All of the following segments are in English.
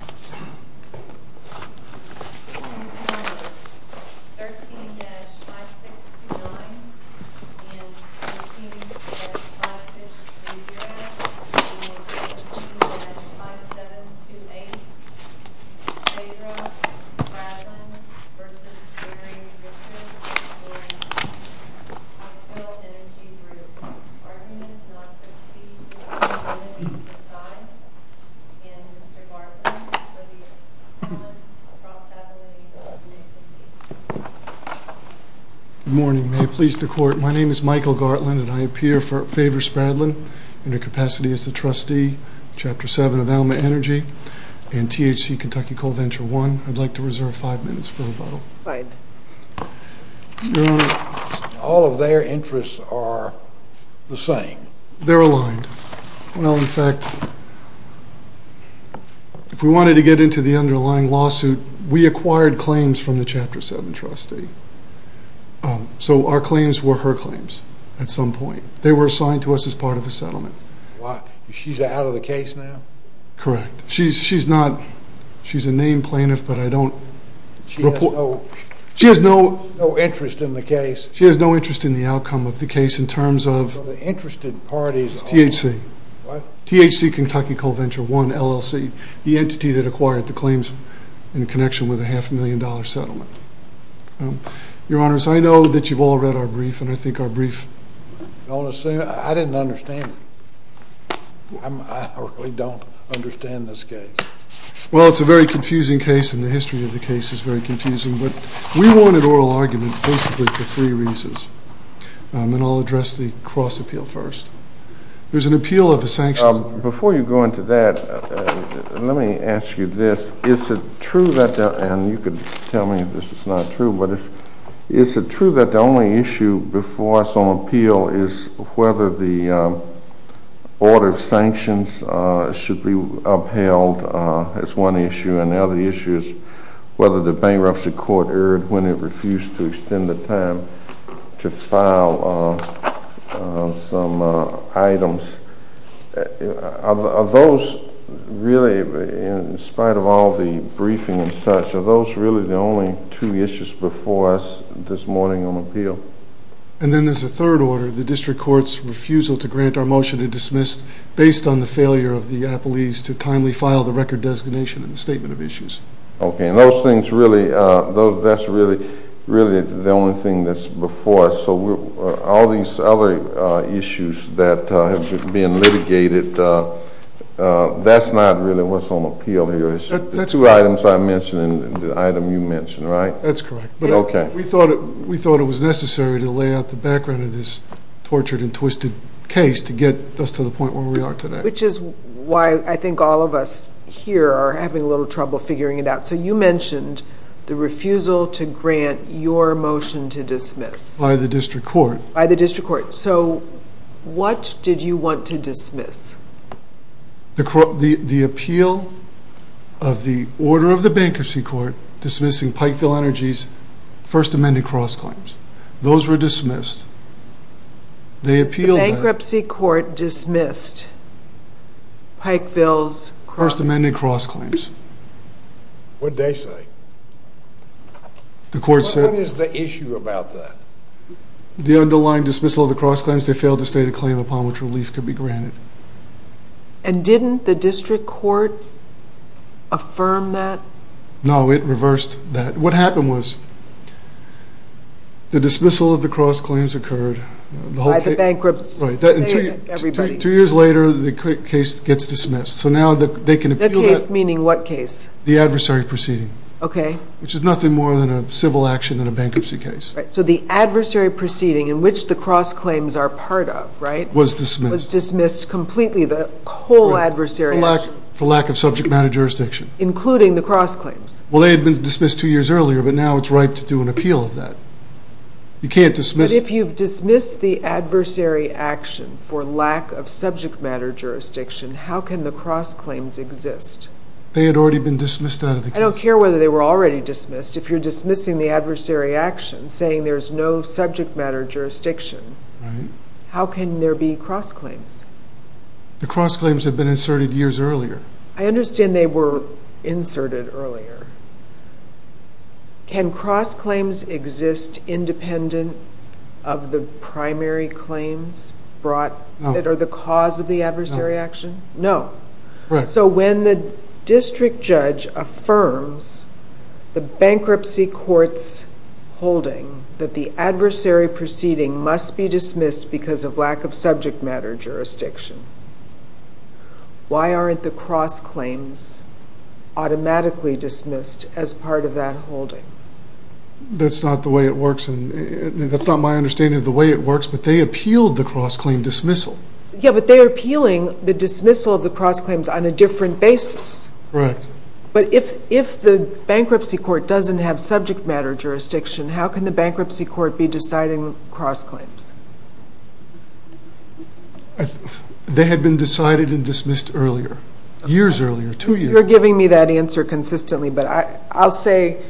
13-5629 Phaedra Spradlin v. Barry Richard, Phaedra Spradlin v. Pikeville Energy Group Good morning. May it please the court, my name is Michael Gartland and I appear for Phaedra Spradlin under capacity as the trustee, Chapter 7 of Alma Energy and THC Kentucky Coal Venture 1. I'd like to reserve five minutes for rebuttal. All of their interests are the same? They're aligned. Well, in fact, if we wanted to get into the underlying lawsuit, we acquired claims from the Chapter 7 trustee. So our claims were her claims at some point. They were assigned to us as part of a settlement. She's out of the case now? Correct. She's a named plaintiff, but I don't report. She has no interest in the case? She has no interest in the outcome of the case in terms of THC Kentucky Coal Venture 1 LLC, the entity that acquired the claims in connection with a half million dollar settlement. Your Honors, I know that you've all read our brief, and I think our brief... Well, it's a very confusing case, and the history of the case is very confusing, but we wanted oral argument basically for three reasons, and I'll address the cross-appeal first. There's an appeal of the sanctions... as one issue, and the other issue is whether the bankruptcy court erred when it refused to extend the time to file some items. Are those really, in spite of all the briefing and such, are those really the only two issues before us this morning on appeal? And then there's a third order, the district court's refusal to grant our motion to dismiss based on the failure of the appellees to timely file the record designation and the statement of issues. Okay, and those things really, that's really the only thing that's before us, so all these other issues that have been litigated, that's not really what's on appeal here. The two items I mentioned and the item you mentioned, right? That's correct. Okay. We thought it was necessary to lay out the background of this tortured and twisted case to get us to the point where we are today. Which is why I think all of us here are having a little trouble figuring it out. So you mentioned the refusal to grant your motion to dismiss. By the district court. By the district court. So what did you want to dismiss? The appeal of the order of the bankruptcy court dismissing Pikeville Energy's first amended cross-claims. Those were dismissed. The bankruptcy court dismissed Pikeville's cross- First amended cross-claims. What did they say? The court said What is the issue about that? The underlying dismissal of the cross-claims, they failed to state a claim upon which relief could be granted. And didn't the district court affirm that? No, it reversed that. What happened was the dismissal of the cross-claims occurred. By the bankruptcy. Right. Two years later, the case gets dismissed. So now they can appeal that. The case meaning what case? The adversary proceeding. Okay. Which is nothing more than a civil action in a bankruptcy case. Right. So the adversary proceeding in which the cross-claims are part of, right? Was dismissed. Was dismissed completely. The whole adversary action. For lack of subject matter jurisdiction. Including the cross-claims. Well, they had been dismissed two years earlier, but now it's right to do an appeal of that. You can't dismiss- But if you've dismissed the adversary action for lack of subject matter jurisdiction, how can the cross-claims exist? They had already been dismissed out of the case. I don't care whether they were already dismissed. If you're dismissing the adversary action, saying there's no subject matter jurisdiction, how can there be cross-claims? The cross-claims had been inserted years earlier. I understand they were inserted earlier. Can cross-claims exist independent of the primary claims that are the cause of the adversary action? No. Right. So when the district judge affirms the bankruptcy court's holding that the adversary proceeding must be dismissed because of lack of subject matter jurisdiction, why aren't the cross-claims automatically dismissed as part of that holding? That's not the way it works. That's not my understanding of the way it works, but they appealed the cross-claim dismissal. Yeah, but they're appealing the dismissal of the cross-claims on a different basis. Right. But if the bankruptcy court doesn't have subject matter jurisdiction, how can the bankruptcy court be deciding cross-claims? They had been decided and dismissed earlier, years earlier, two years. You're giving me that answer consistently, but I'll say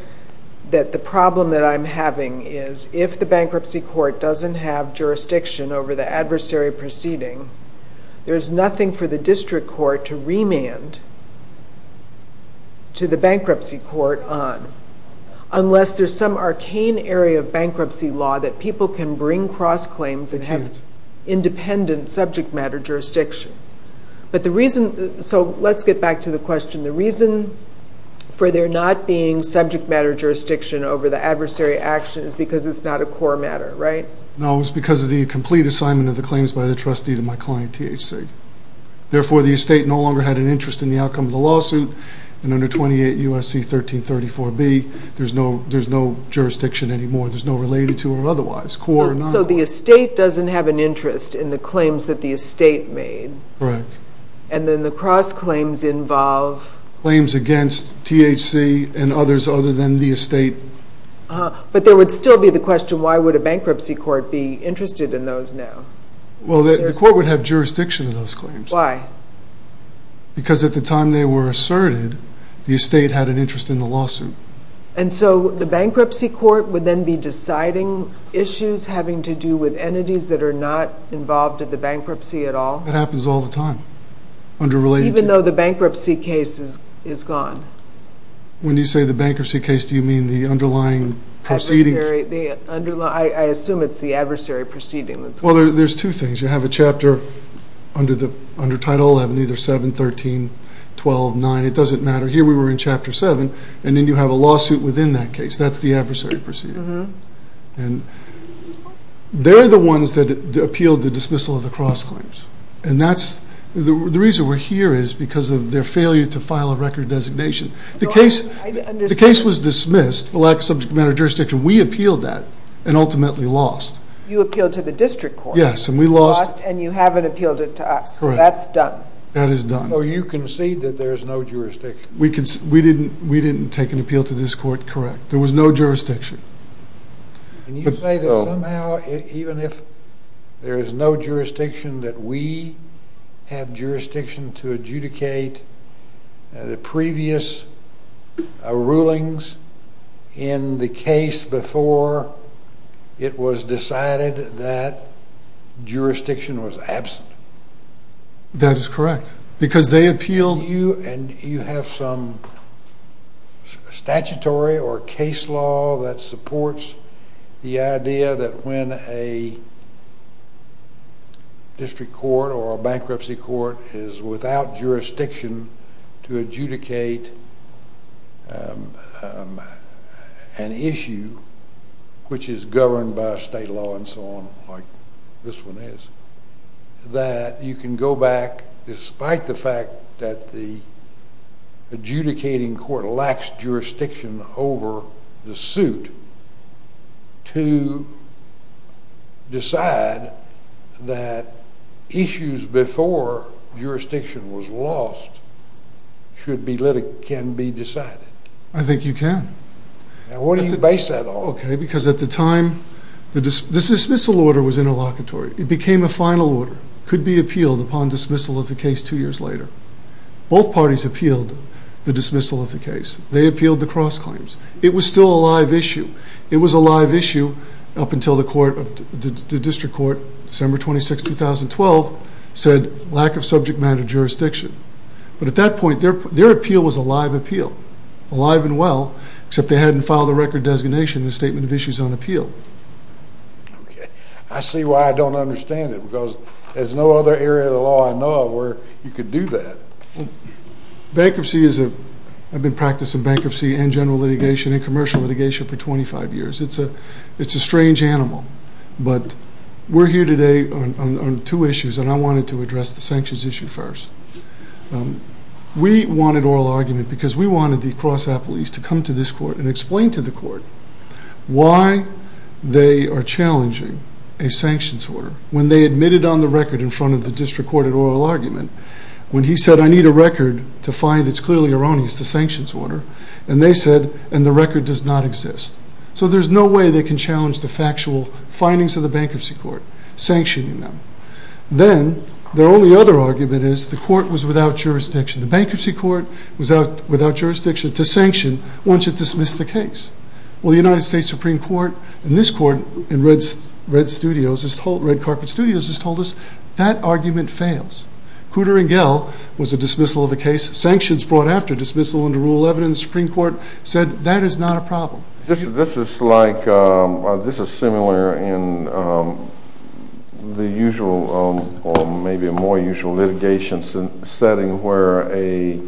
that the problem that I'm having is if the bankruptcy court doesn't have jurisdiction over the adversary proceeding, there's nothing for the district court to remand to the bankruptcy court on, unless there's some arcane area of bankruptcy law that people can bring cross-claims and have independent subject matter jurisdiction. So let's get back to the question. The reason for there not being subject matter jurisdiction over the adversary action is because it's not a core matter, right? No, it's because of the complete assignment of the claims by the trustee to my client, THC. Therefore, the estate no longer had an interest in the outcome of the lawsuit, and under 28 U.S.C. 1334B, there's no jurisdiction anymore. So the estate doesn't have an interest in the claims that the estate made? Correct. And then the cross-claims involve? Claims against THC and others other than the estate. But there would still be the question, why would a bankruptcy court be interested in those now? Well, the court would have jurisdiction of those claims. Why? Because at the time they were asserted, the estate had an interest in the lawsuit. And so the bankruptcy court would then be deciding issues having to do with entities that are not involved in the bankruptcy at all? It happens all the time. Even though the bankruptcy case is gone? When you say the bankruptcy case, do you mean the underlying proceeding? I assume it's the adversary proceeding that's gone. Well, there's two things. You have a chapter under Title 11, either 7, 13, 12, 9. It doesn't matter. Here we were in Chapter 7, and then you have a lawsuit within that case. That's the adversary proceeding. And they're the ones that appealed the dismissal of the cross-claims. And the reason we're here is because of their failure to file a record designation. The case was dismissed for lack of subject matter of jurisdiction. We appealed that and ultimately lost. You appealed to the district court. Yes, and we lost. You lost and you haven't appealed it to us. Correct. So that's done. That is done. So you concede that there is no jurisdiction. We didn't take an appeal to this court. Correct. There was no jurisdiction. Can you say that somehow, even if there is no jurisdiction, that we have jurisdiction to adjudicate the previous rulings in the case before it was decided that jurisdiction was absent? That is correct. Because they appealed. Do you have some statutory or case law that supports the idea that when a district court or a bankruptcy court is without jurisdiction to adjudicate an issue, which is governed by state law and so on, like this one is, that you can go back, despite the fact that the adjudicating court lacks jurisdiction over the suit, to decide that issues before jurisdiction was lost can be decided? I think you can. Why do you base that on? Because at the time, the dismissal order was interlocutory. It became a final order. It could be appealed upon dismissal of the case two years later. Both parties appealed the dismissal of the case. They appealed the cross claims. It was still a live issue. It was a live issue up until the district court, December 26, 2012, said lack of subject matter jurisdiction. But at that point, their appeal was a live appeal, alive and well, except they hadn't filed a record designation and a statement of issues on appeal. Okay. I see why I don't understand it, because there's no other area of the law I know of where you could do that. Bankruptcy is a—I've been practicing bankruptcy and general litigation and commercial litigation for 25 years. It's a strange animal. But we're here today on two issues, and I wanted to address the sanctions issue first. We wanted oral argument because we wanted the cross apologies to come to this court and explain to the court why they are challenging a sanctions order. When they admitted on the record in front of the district court an oral argument, when he said, I need a record to find, it's clearly erroneous, the sanctions order, and they said, and the record does not exist. So there's no way they can challenge the factual findings of the bankruptcy court, sanctioning them. Then their only other argument is the court was without jurisdiction. The bankruptcy court was without jurisdiction to sanction once it dismissed the case. Well, the United States Supreme Court in this court, in Red Studios, Red Carpet Studios, has told us that argument fails. Cooter and Gell was a dismissal of the case. Sanctions brought after dismissal under rule 11 in the Supreme Court said that is not a problem. This is like, this is similar in the usual or maybe a more usual litigation setting where a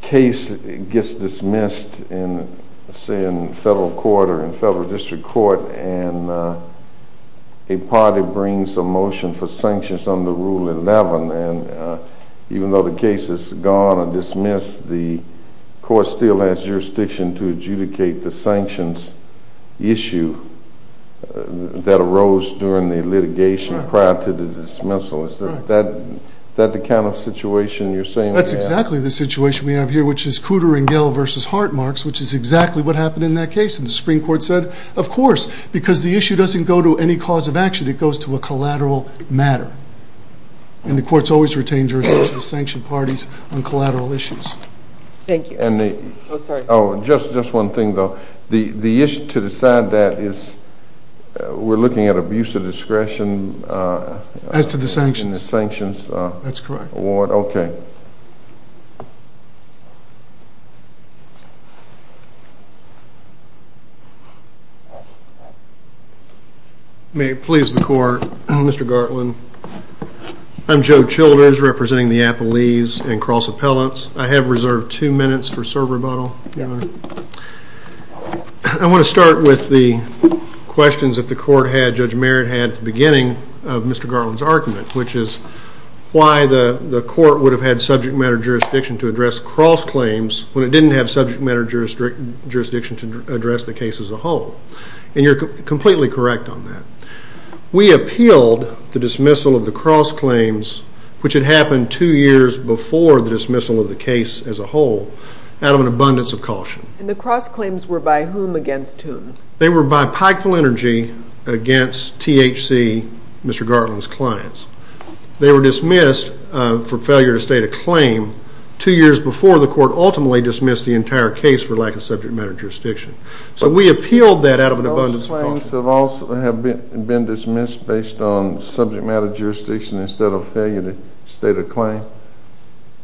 case gets dismissed in, say, in federal court or in federal district court, and a party brings a motion for sanctions under rule 11, and even though the case is gone or dismissed, the court still has jurisdiction to adjudicate the sanctions issue that arose during the litigation prior to the dismissal. Is that the kind of situation you're saying we have? That's exactly the situation we have here, which is Cooter and Gell versus Hartmarks, which is exactly what happened in that case. And the Supreme Court said, of course, because the issue doesn't go to any cause of action. It goes to a collateral matter, and the court's always retained jurisdiction to sanction parties on collateral issues. Thank you. Oh, sorry. Just one thing, though. The issue to decide that is we're looking at abuse of discretion. As to the sanctions. In the sanctions award. That's correct. Okay. Thank you. May it please the court, Mr. Gartland. I'm Joe Childers, representing the Appalese and Cross Appellants. I have reserved two minutes for serve rebuttal. I want to start with the questions that the court had, Judge Merritt had at the beginning of Mr. Gartland's argument, which is why the court would have had subject matter jurisdiction to address cross claims when it didn't have subject matter jurisdiction to address the case as a whole. And you're completely correct on that. We appealed the dismissal of the cross claims, which had happened two years before the dismissal of the case as a whole, out of an abundance of caution. And the cross claims were by whom against whom? They were by Pikeville Energy against THC, Mr. Gartland's clients. They were dismissed for failure to state a claim two years before the court ultimately dismissed the entire case for lack of subject matter jurisdiction. So we appealed that out of an abundance of caution. Those claims have been dismissed based on subject matter jurisdiction instead of failure to state a claim?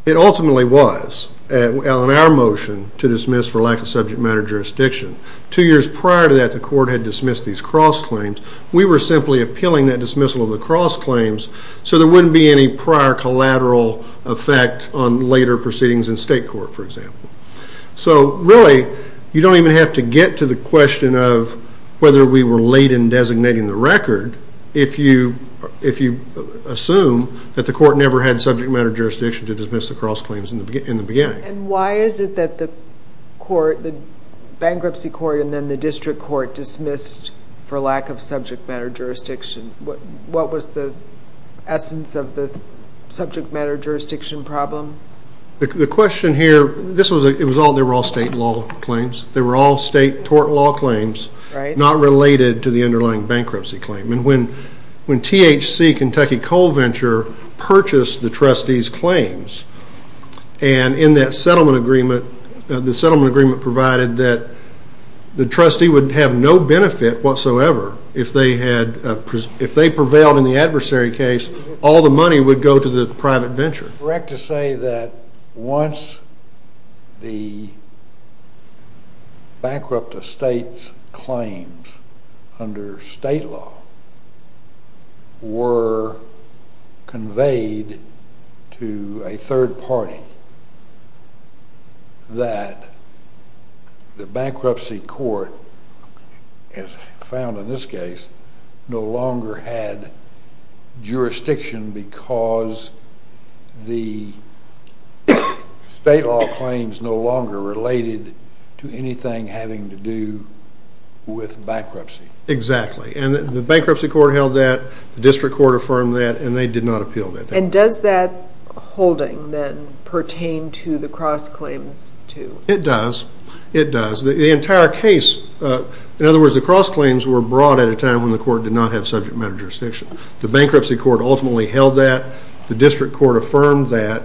It ultimately was on our motion to dismiss for lack of subject matter jurisdiction. Two years prior to that, the court had dismissed these cross claims. We were simply appealing that dismissal of the cross claims so there wouldn't be any prior collateral effect on later proceedings in state court, for example. So really, you don't even have to get to the question of whether we were late in designating the record if you assume that the court never had subject matter jurisdiction to dismiss the cross claims in the beginning. And why is it that the bankruptcy court and then the district court dismissed for lack of subject matter jurisdiction? What was the essence of the subject matter jurisdiction problem? The question here, it was all state law claims. They were all state tort law claims, not related to the underlying bankruptcy claim. When THC, Kentucky Coal Venture, purchased the trustees' claims, and in that settlement agreement, the settlement agreement provided that the trustee would have no benefit whatsoever if they prevailed in the adversary case, all the money would go to the private venture. Is it correct to say that once the bankrupt estate's claims under state law were conveyed to a third party, that the bankruptcy court, as found in this case, no longer had jurisdiction because the state law claims no longer related to anything having to do with bankruptcy? Exactly. And the bankruptcy court held that, the district court affirmed that, and they did not appeal that. And does that holding then pertain to the cross claims too? It does. It does. The entire case, in other words, the cross claims were brought at a time when the court did not have subject matter jurisdiction. The bankruptcy court ultimately held that, the district court affirmed that.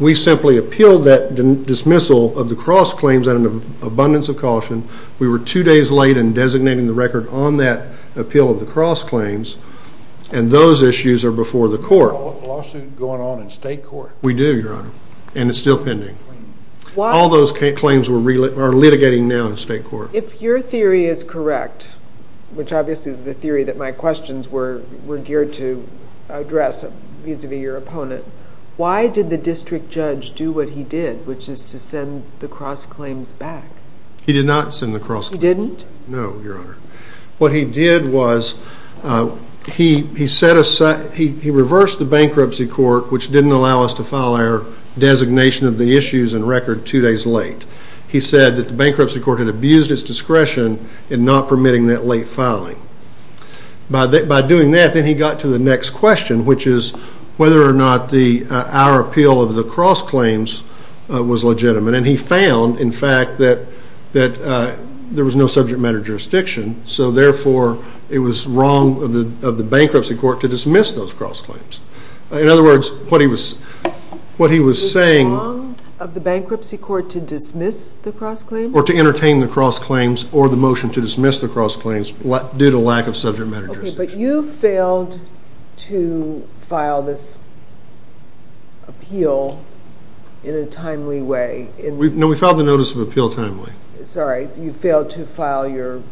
We simply appealed that dismissal of the cross claims out of an abundance of caution. We were two days late in designating the record on that appeal of the cross claims, and those issues are before the court. Is there a lawsuit going on in state court? We do, Your Honor, and it's still pending. All those claims are litigating now in state court. If your theory is correct, which obviously is the theory that my questions were geared to address vis-a-vis your opponent, why did the district judge do what he did, which is to send the cross claims back? He did not send the cross claims back. He didn't? No, Your Honor. What he did was he reversed the bankruptcy court, which didn't allow us to file our designation of the issues and record two days late. He said that the bankruptcy court had abused its discretion in not permitting that late filing. By doing that, then he got to the next question, which is whether or not our appeal of the cross claims was legitimate, and he found, in fact, that there was no subject matter jurisdiction, so therefore it was wrong of the bankruptcy court to dismiss those cross claims. In other words, what he was saying— It was wrong of the bankruptcy court to dismiss the cross claims? Or to entertain the cross claims or the motion to dismiss the cross claims due to lack of subject matter jurisdiction. Okay, but you failed to file this appeal in a timely way. No, we filed the notice of appeal timely. Sorry, you failed to file your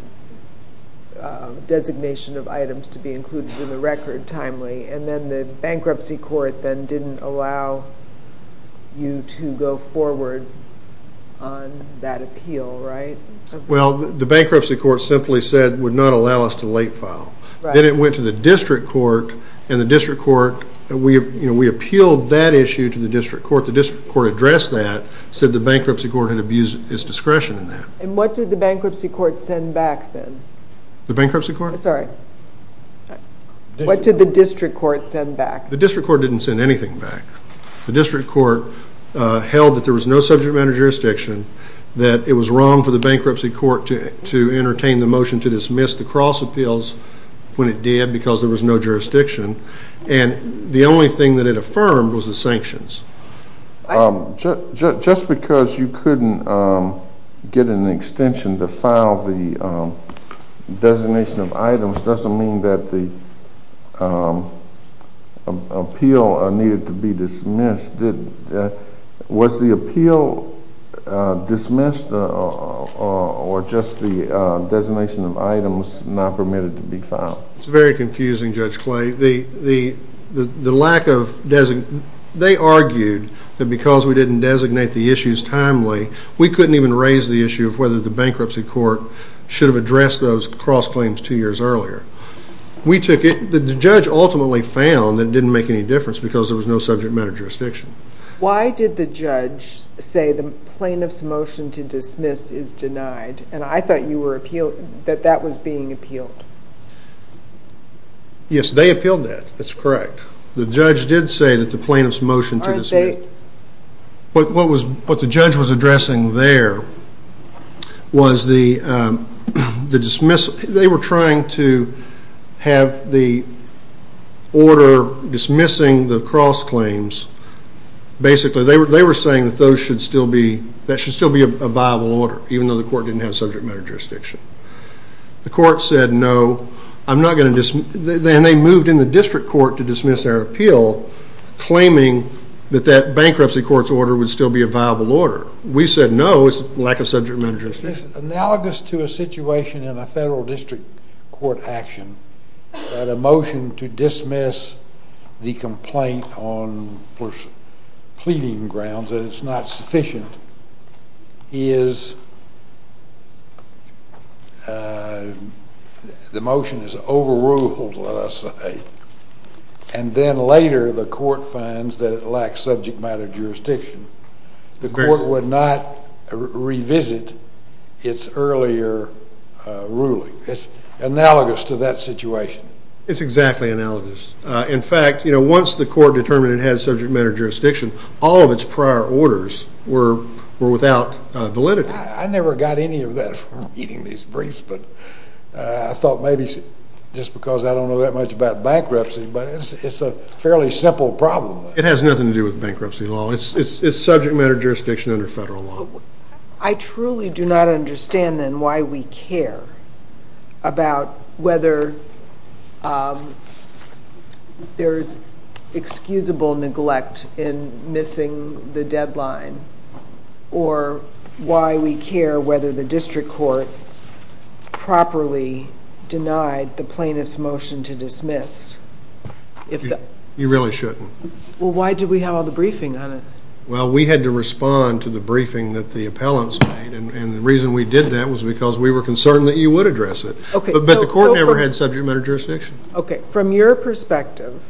designation of items to be included in the record timely, and then the bankruptcy court then didn't allow you to go forward on that appeal, right? Well, the bankruptcy court simply said it would not allow us to late file. Then it went to the district court, and the district court—we appealed that issue to the district court. The district court addressed that, said the bankruptcy court had abused its discretion in that. And what did the bankruptcy court send back then? The bankruptcy court? Sorry, what did the district court send back? The district court didn't send anything back. The district court held that there was no subject matter jurisdiction, that it was wrong for the bankruptcy court to entertain the motion to dismiss the cross appeals when it did because there was no jurisdiction, and the only thing that it affirmed was the sanctions. Just because you couldn't get an extension to file the designation of items doesn't mean that the appeal needed to be dismissed. Was the appeal dismissed or just the designation of items not permitted to be filed? It's very confusing, Judge Clay. They argued that because we didn't designate the issues timely, we couldn't even raise the issue of whether the bankruptcy court should have addressed those cross claims two years earlier. The judge ultimately found that it didn't make any difference because there was no subject matter jurisdiction. Why did the judge say the plaintiff's motion to dismiss is denied? And I thought that that was being appealed. Yes, they appealed that. That's correct. The judge did say that the plaintiff's motion to dismiss— what the judge was addressing there was the dismissal. They were trying to have the order dismissing the cross claims. Basically, they were saying that that should still be a viable order, even though the court didn't have subject matter jurisdiction. The court said, no, I'm not going to dismiss— We said, no, it's lack of subject matter jurisdiction. It's analogous to a situation in a federal district court action that a motion to dismiss the complaint on pleading grounds that it's not sufficient is— the motion is overruled, let us say. And then later the court finds that it lacks subject matter jurisdiction. The court would not revisit its earlier ruling. It's analogous to that situation. It's exactly analogous. In fact, once the court determined it had subject matter jurisdiction, all of its prior orders were without validity. I never got any of that from reading these briefs, but I thought maybe just because I don't know that much about bankruptcy, but it's a fairly simple problem. It has nothing to do with bankruptcy law. It's subject matter jurisdiction under federal law. I truly do not understand, then, why we care about whether there's excusable neglect in missing the deadline or why we care whether the district court properly denied the plaintiff's motion to dismiss. You really shouldn't. Well, why did we have all the briefing on it? Well, we had to respond to the briefing that the appellants made, and the reason we did that was because we were concerned that you would address it. But the court never had subject matter jurisdiction. Okay. From your perspective,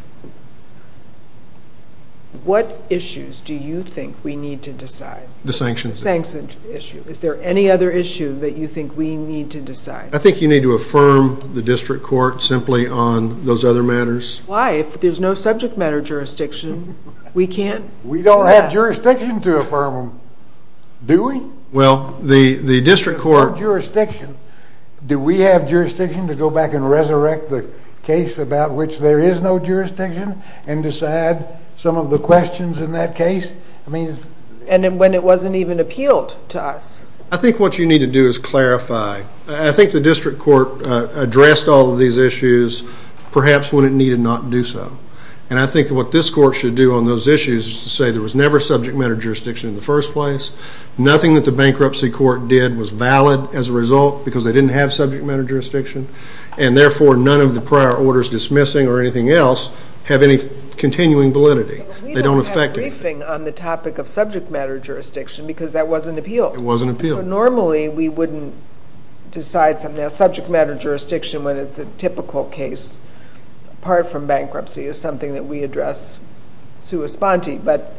what issues do you think we need to decide? The sanctions issue. The sanctions issue. Is there any other issue that you think we need to decide? I think you need to affirm the district court simply on those other matters. Why? If there's no subject matter jurisdiction, we can't do that? We don't have jurisdiction to affirm them, do we? Well, the district court— Do we have jurisdiction to go back and resurrect the case about which there is no jurisdiction and decide some of the questions in that case? And when it wasn't even appealed to us. I think what you need to do is clarify. I think the district court addressed all of these issues perhaps when it needed not do so. And I think what this court should do on those issues is to say there was never subject matter jurisdiction in the first place, nothing that the bankruptcy court did was valid as a result because they didn't have subject matter jurisdiction, and therefore none of the prior orders dismissing or anything else have any continuing validity. They don't affect anything. But we don't have a briefing on the topic of subject matter jurisdiction because that wasn't appealed. It wasn't appealed. So normally we wouldn't decide something on subject matter jurisdiction when it's a typical case, apart from bankruptcy, is something that we address sua sponte. But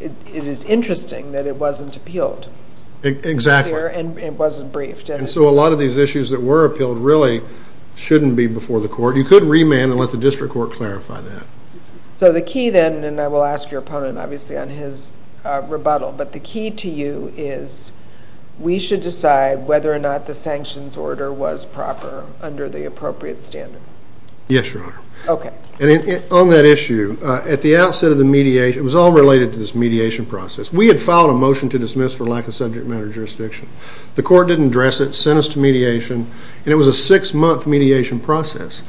it is interesting that it wasn't appealed. Exactly. And it wasn't briefed. And so a lot of these issues that were appealed really shouldn't be before the court. You could remand and let the district court clarify that. So the key then, and I will ask your opponent obviously on his rebuttal, but the key to you is we should decide whether or not the sanctions order was proper under the appropriate standard. Yes, Your Honor. Okay. And on that issue, at the outset of the mediation, it was all related to this mediation process. We had filed a motion to dismiss for lack of subject matter jurisdiction. The court didn't address it, sent us to mediation, and it was a six-month mediation process.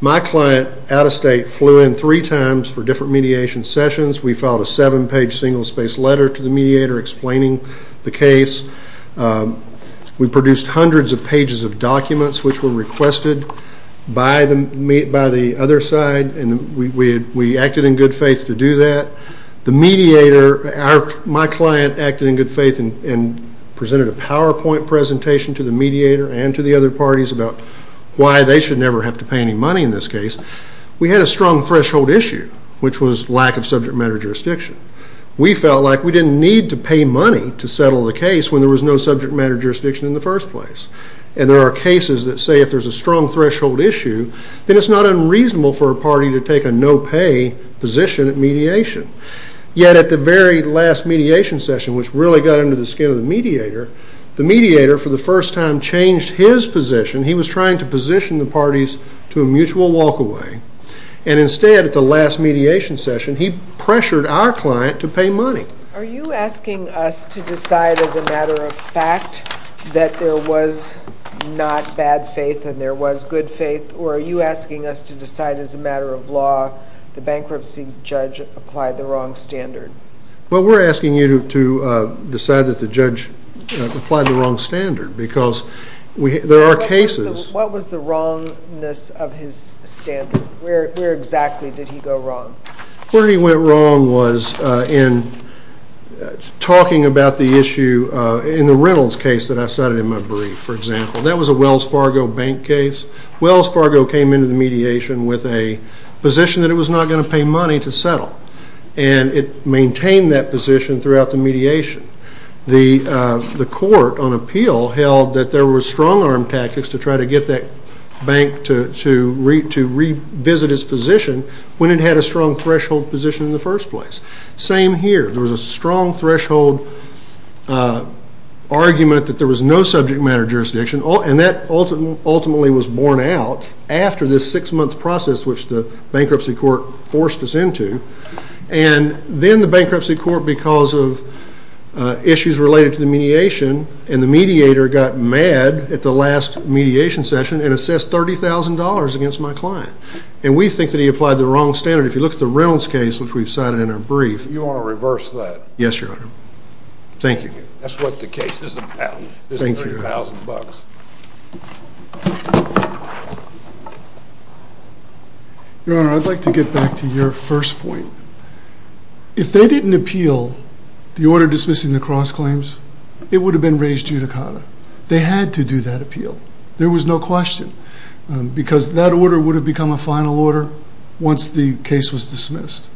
My client, out of state, flew in three times for different mediation sessions. We filed a seven-page single-space letter to the mediator explaining the case. We produced hundreds of pages of documents which were requested by the other side, and we acted in good faith to do that. The mediator, my client, acted in good faith and presented a PowerPoint presentation to the mediator and to the other parties about why they should never have to pay any money in this case. We had a strong threshold issue, which was lack of subject matter jurisdiction. We felt like we didn't need to pay money to settle the case when there was no subject matter jurisdiction in the first place. And there are cases that say if there's a strong threshold issue, then it's not unreasonable for a party to take a no-pay position at mediation. Yet at the very last mediation session, which really got under the skin of the mediator, the mediator, for the first time, changed his position. He was trying to position the parties to a mutual walk-away. And instead, at the last mediation session, he pressured our client to pay money. Are you asking us to decide as a matter of fact that there was not bad faith and there was good faith, or are you asking us to decide as a matter of law the bankruptcy judge applied the wrong standard? Well, we're asking you to decide that the judge applied the wrong standard because there are cases. What was the wrongness of his standard? Where exactly did he go wrong? Where he went wrong was in talking about the issue in the Reynolds case that I cited in my brief, for example. That was a Wells Fargo bank case. Wells Fargo came into the mediation with a position that it was not going to pay money to settle, and it maintained that position throughout the mediation. The court on appeal held that there were strong-arm tactics to try to get that bank to revisit its position when it had a strong threshold position in the first place. Same here. There was a strong threshold argument that there was no subject matter jurisdiction, and that ultimately was borne out after this six-month process which the bankruptcy court forced us into. And then the bankruptcy court, because of issues related to the mediation, and the mediator got mad at the last mediation session and assessed $30,000 against my client. And we think that he applied the wrong standard. If you look at the Reynolds case, which we've cited in our brief. You want to reverse that? Yes, Your Honor. Thank you. That's what the case is about, is the $30,000. Your Honor, I'd like to get back to your first point. If they didn't appeal the order dismissing the cross claims, it would have been raised judicata. They had to do that appeal. There was no question, because that order would have become a final order once the case was dismissed.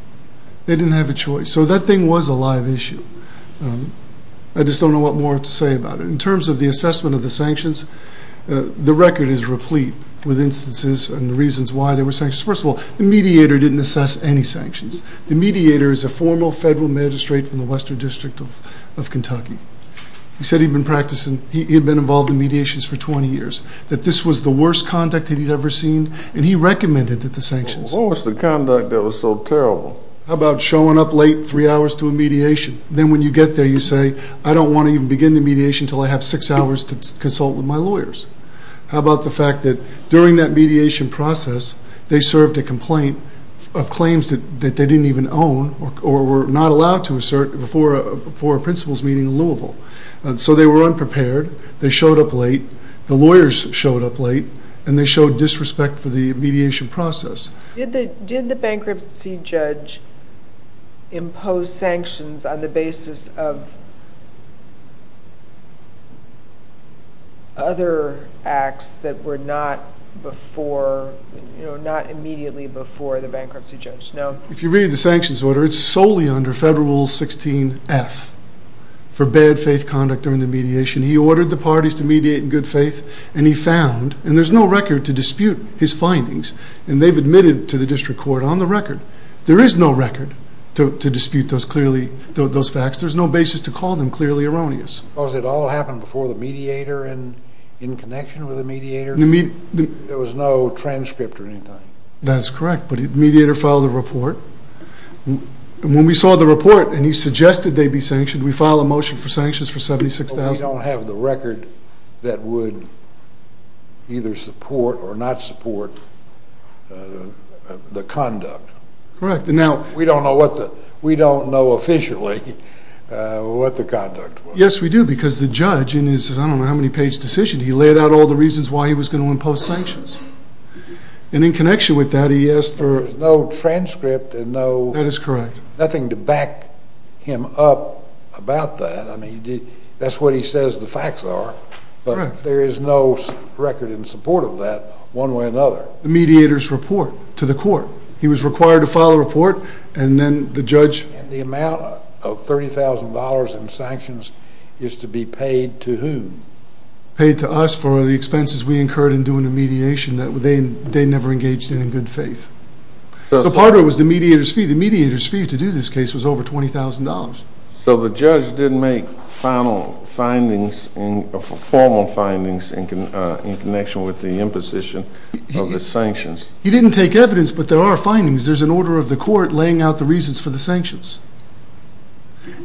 They didn't have a choice. So that thing was a live issue. I just don't know what more to say about it. In terms of the assessment of the sanctions, the record is replete with instances and reasons why there were sanctions. First of all, the mediator didn't assess any sanctions. The mediator is a formal federal magistrate from the Western District of Kentucky. He said he'd been involved in mediations for 20 years, that this was the worst conduct he'd ever seen, and he recommended that the sanctions. What was the conduct that was so terrible? How about showing up late three hours to a mediation? Then when you get there, you say, I don't want to even begin the mediation until I have six hours to consult with my lawyers. How about the fact that during that mediation process, they served a complaint of claims that they didn't even own or were not allowed to assert before a principals' meeting in Louisville? So they were unprepared. They showed up late. The lawyers showed up late. And they showed disrespect for the mediation process. Did the bankruptcy judge impose sanctions on the basis of other acts that were not immediately before the bankruptcy judge? No. If you read the sanctions order, it's solely under Federal Rule 16-F. Forbid faith conduct during the mediation. He ordered the parties to mediate in good faith, and he found, and there's no record to dispute his findings, and they've admitted to the district court on the record. There is no record to dispute those facts. There's no basis to call them clearly erroneous. Because it all happened before the mediator and in connection with the mediator? There was no transcript or anything. That's correct, but the mediator filed a report. When we saw the report and he suggested they be sanctioned, we filed a motion for sanctions for $76,000. We don't have the record that would either support or not support the conduct. We don't know officially what the conduct was. Yes, we do, because the judge in his I don't know how many page decision, he laid out all the reasons why he was going to impose sanctions. And in connection with that, he asked for no transcript and nothing to back him up about that. That's what he says the facts are, but there is no record in support of that one way or another. The mediator's report to the court. He was required to file a report, and then the judge And the amount of $30,000 in sanctions is to be paid to whom? Paid to us for the expenses we incurred in doing the mediation that they never engaged in in good faith. So part of it was the mediator's fee. So the judge didn't make formal findings in connection with the imposition of the sanctions? He didn't take evidence, but there are findings. There's an order of the court laying out the reasons for the sanctions.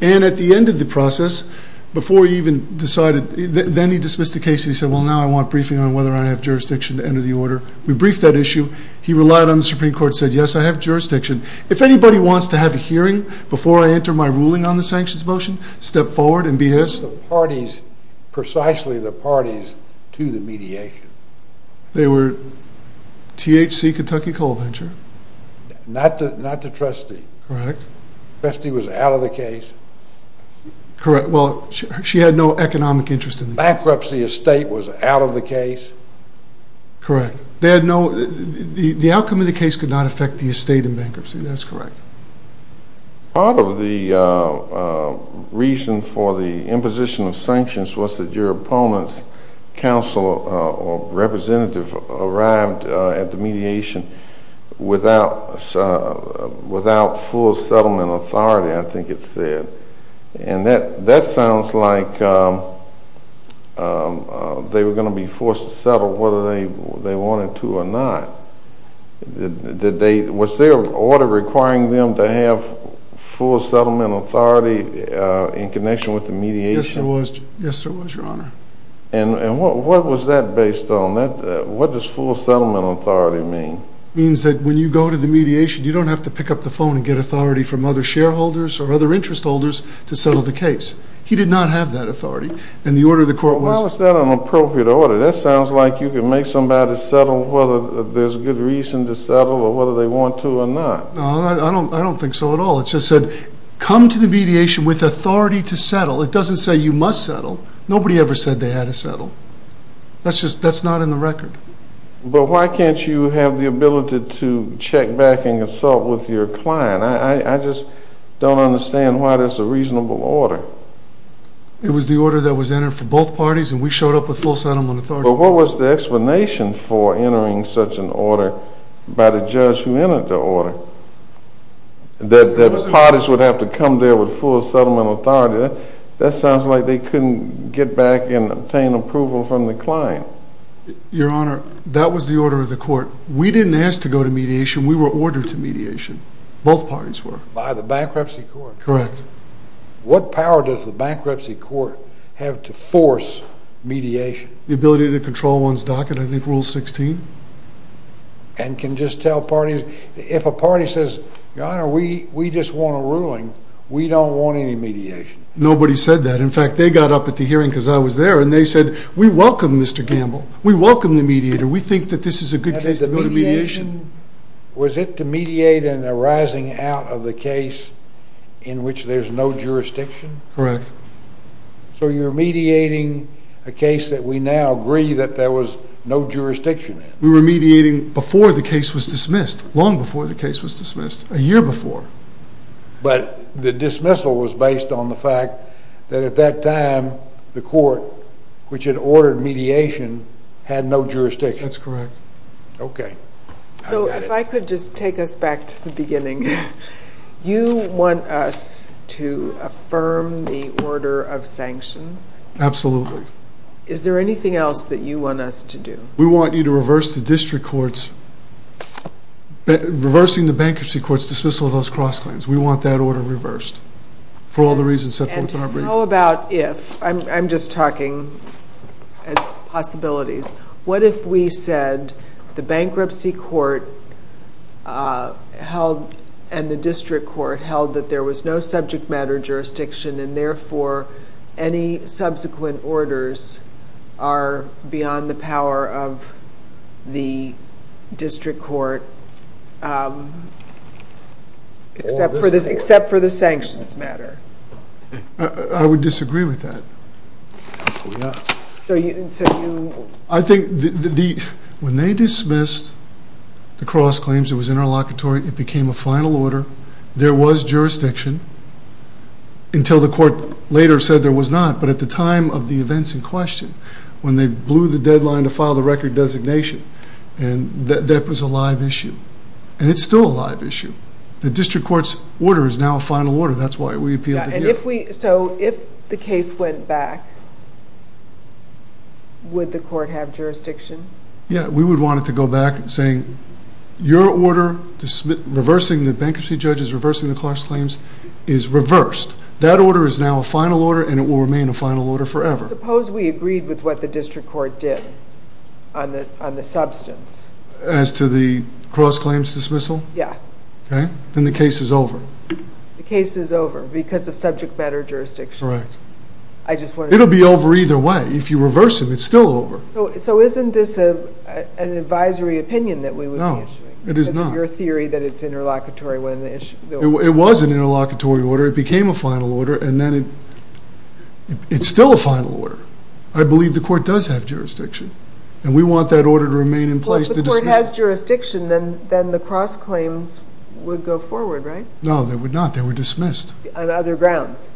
And at the end of the process, before he even decided, then he dismissed the case, and he said, well, now I want briefing on whether I have jurisdiction to enter the order. We briefed that issue. He relied on the Supreme Court and said, yes, I have jurisdiction. If anybody wants to have a hearing before I enter my ruling on the sanctions motion, step forward and be his. The parties, precisely the parties to the mediation. They were THC, Kentucky Coal Venture. Not the trustee. Correct. The trustee was out of the case. Correct. Well, she had no economic interest in the case. Bankruptcy estate was out of the case. Correct. The outcome of the case could not affect the estate in bankruptcy. That's correct. Part of the reason for the imposition of sanctions was that your opponent's counsel or representative arrived at the mediation without full settlement authority, I think it said. And that sounds like they were going to be forced to settle whether they wanted to or not. Was their order requiring them to have full settlement authority in connection with the mediation? Yes, there was, Your Honor. And what was that based on? What does full settlement authority mean? It means that when you go to the mediation, you don't have to pick up the phone and get authority from other shareholders or other interest holders to settle the case. He did not have that authority. Well, why was that an appropriate order? That sounds like you could make somebody settle whether there's good reason to settle or whether they want to or not. No, I don't think so at all. It just said, come to the mediation with authority to settle. It doesn't say you must settle. Nobody ever said they had to settle. That's not in the record. But why can't you have the ability to check back and consult with your client? I just don't understand why that's a reasonable order. It was the order that was entered for both parties, and we showed up with full settlement authority. But what was the explanation for entering such an order by the judge who entered the order? That parties would have to come there with full settlement authority. That sounds like they couldn't get back and obtain approval from the client. Your Honor, that was the order of the court. We didn't ask to go to mediation. We were ordered to mediation. Both parties were. By the bankruptcy court? Correct. What power does the bankruptcy court have to force mediation? The ability to control one's docket, I think Rule 16. And can just tell parties? If a party says, Your Honor, we just want a ruling, we don't want any mediation. Nobody said that. In fact, they got up at the hearing because I was there, and they said, We welcome Mr. Gamble. We welcome the mediator. We think that this is a good case to go to mediation. Was it to mediate in a rising out of the case in which there's no jurisdiction? Correct. So you're mediating a case that we now agree that there was no jurisdiction in? We were mediating before the case was dismissed, long before the case was dismissed, a year before. But the dismissal was based on the fact that at that time, the court, which had ordered mediation, had no jurisdiction. That's correct. Okay. So if I could just take us back to the beginning. You want us to affirm the order of sanctions? Absolutely. Is there anything else that you want us to do? We want you to reverse the district courts, reversing the bankruptcy courts dismissal of those cross claims. We want that order reversed for all the reasons set forth in our brief. And how about if, I'm just talking as possibilities, what if we said the bankruptcy court held and the district court held that there was no subject matter jurisdiction, and therefore any subsequent orders are beyond the power of the district court, except for the sanctions matter? I would disagree with that. So you... I think when they dismissed the cross claims, it was interlocutory, it became a final order, there was jurisdiction until the court later said there was not. But at the time of the events in question, when they blew the deadline to file the record designation, that was a live issue. And it's still a live issue. The district court's order is now a final order. That's why we appealed it here. So if the case went back, would the court have jurisdiction? Yeah, we would want it to go back saying your order, reversing the bankruptcy judges, reversing the cross claims, is reversed. That order is now a final order and it will remain a final order forever. Suppose we agreed with what the district court did on the substance. As to the cross claims dismissal? Yeah. Okay, then the case is over. The case is over because of subject matter jurisdiction. Correct. It'll be over either way. If you reverse them, it's still over. So isn't this an advisory opinion that we would be issuing? No, it is not. Because of your theory that it's interlocutory when the issue goes forward. It was an interlocutory order. It became a final order and then it's still a final order. I believe the court does have jurisdiction and we want that order to remain in place. Well, if the court has jurisdiction, then the cross claims would go forward, right? No, they would not. They were dismissed. On other grounds.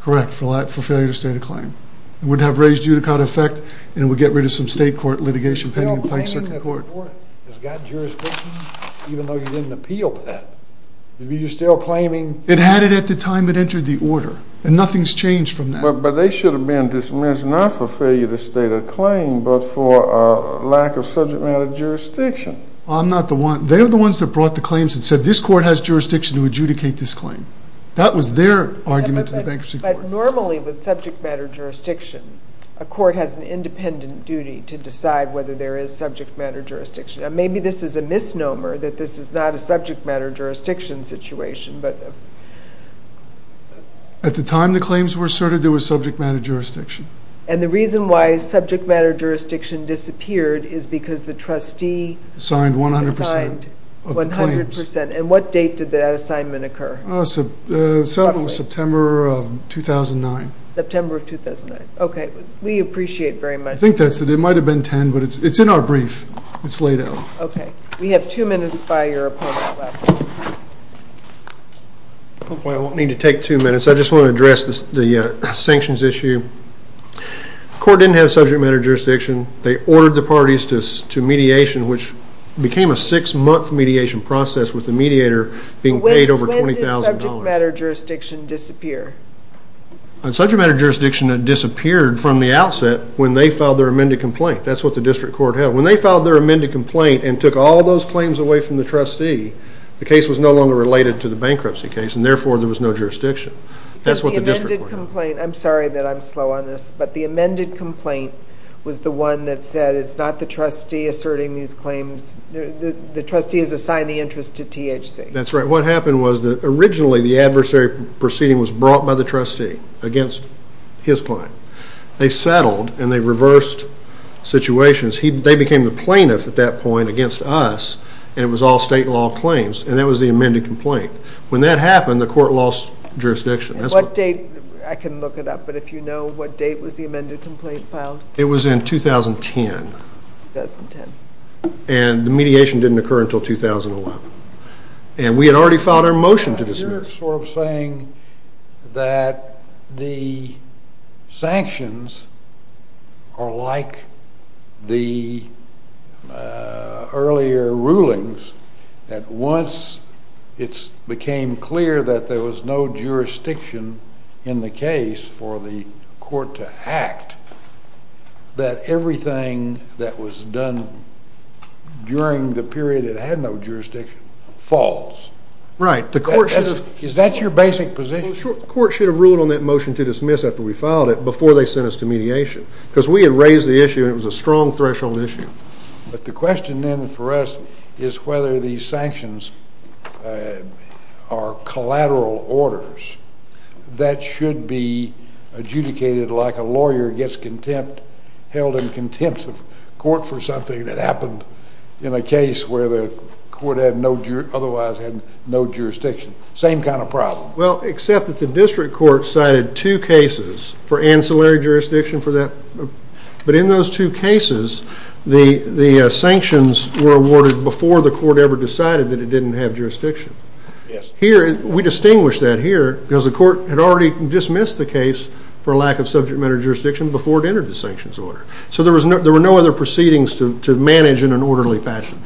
Correct, for failure to state a claim. It would have raised judicata effect and it would get rid of some state court litigation pending in Pike Circuit Court. Well, claiming that the court has got jurisdiction, even though you didn't appeal to that, you're still claiming... It had it at the time it entered the order and nothing's changed from that. But they should have been dismissed not for failure to state a claim, but for lack of subject matter jurisdiction. I'm not the one. They're the ones that brought the claims and said this court has jurisdiction to adjudicate this claim. That was their argument to the bankruptcy court. Normally with subject matter jurisdiction, a court has an independent duty to decide whether there is subject matter jurisdiction. Maybe this is a misnomer that this is not a subject matter jurisdiction situation, but... At the time the claims were asserted, there was subject matter jurisdiction. And the reason why subject matter jurisdiction disappeared is because the trustee... Signed 100% of the claims. And what date did that assignment occur? September or September of 2009. September of 2009. Okay. We appreciate it very much. I think that's it. It might have been 10, but it's in our brief. It's laid out. Okay. We have two minutes by your opponent left. I won't need to take two minutes. I just want to address the sanctions issue. The court didn't have subject matter jurisdiction. They ordered the parties to mediation, which became a six-month mediation process with the mediator being paid over $20,000. When did subject matter jurisdiction disappear? Subject matter jurisdiction disappeared from the outset when they filed their amended complaint. That's what the district court held. When they filed their amended complaint and took all those claims away from the trustee, the case was no longer related to the bankruptcy case, and therefore there was no jurisdiction. That's what the district court held. The amended complaint, I'm sorry that I'm slow on this, but the amended complaint was the one that said it's not the trustee asserting these claims. The trustee has assigned the interest to THC. That's right. What happened was that originally the adversary proceeding was brought by the trustee against his claim. They settled, and they reversed situations. They became the plaintiff at that point against us, and it was all state law claims, and that was the amended complaint. When that happened, the court lost jurisdiction. What date? I can look it up, but if you know what date was the amended complaint filed? It was in 2010. 2010. And the mediation didn't occur until 2011. And we had already filed our motion to dismiss. You're sort of saying that the sanctions are like the earlier rulings, that once it became clear that there was no jurisdiction in the case for the court to act, that everything that was done during the period it had no jurisdiction falls? Right. Is that your basic position? The court should have ruled on that motion to dismiss after we filed it before they sent us to mediation because we had raised the issue, and it was a strong threshold issue. But the question then for us is whether these sanctions are collateral orders that should be adjudicated like a lawyer gets held in contempt of court for something that happened in a case where the court otherwise had no jurisdiction. Same kind of problem. Well, except that the district court cited two cases for ancillary jurisdiction for that. But in those two cases, the sanctions were awarded before the court ever decided that it didn't have jurisdiction. Yes. We distinguish that here because the court had already dismissed the case for a lack of subject matter jurisdiction before it entered the sanctions order. So there were no other proceedings to manage in an orderly fashion.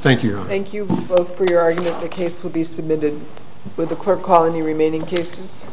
Thank you, Your Honor. Thank you both for your argument. The case will be submitted. Would the clerk call any remaining cases?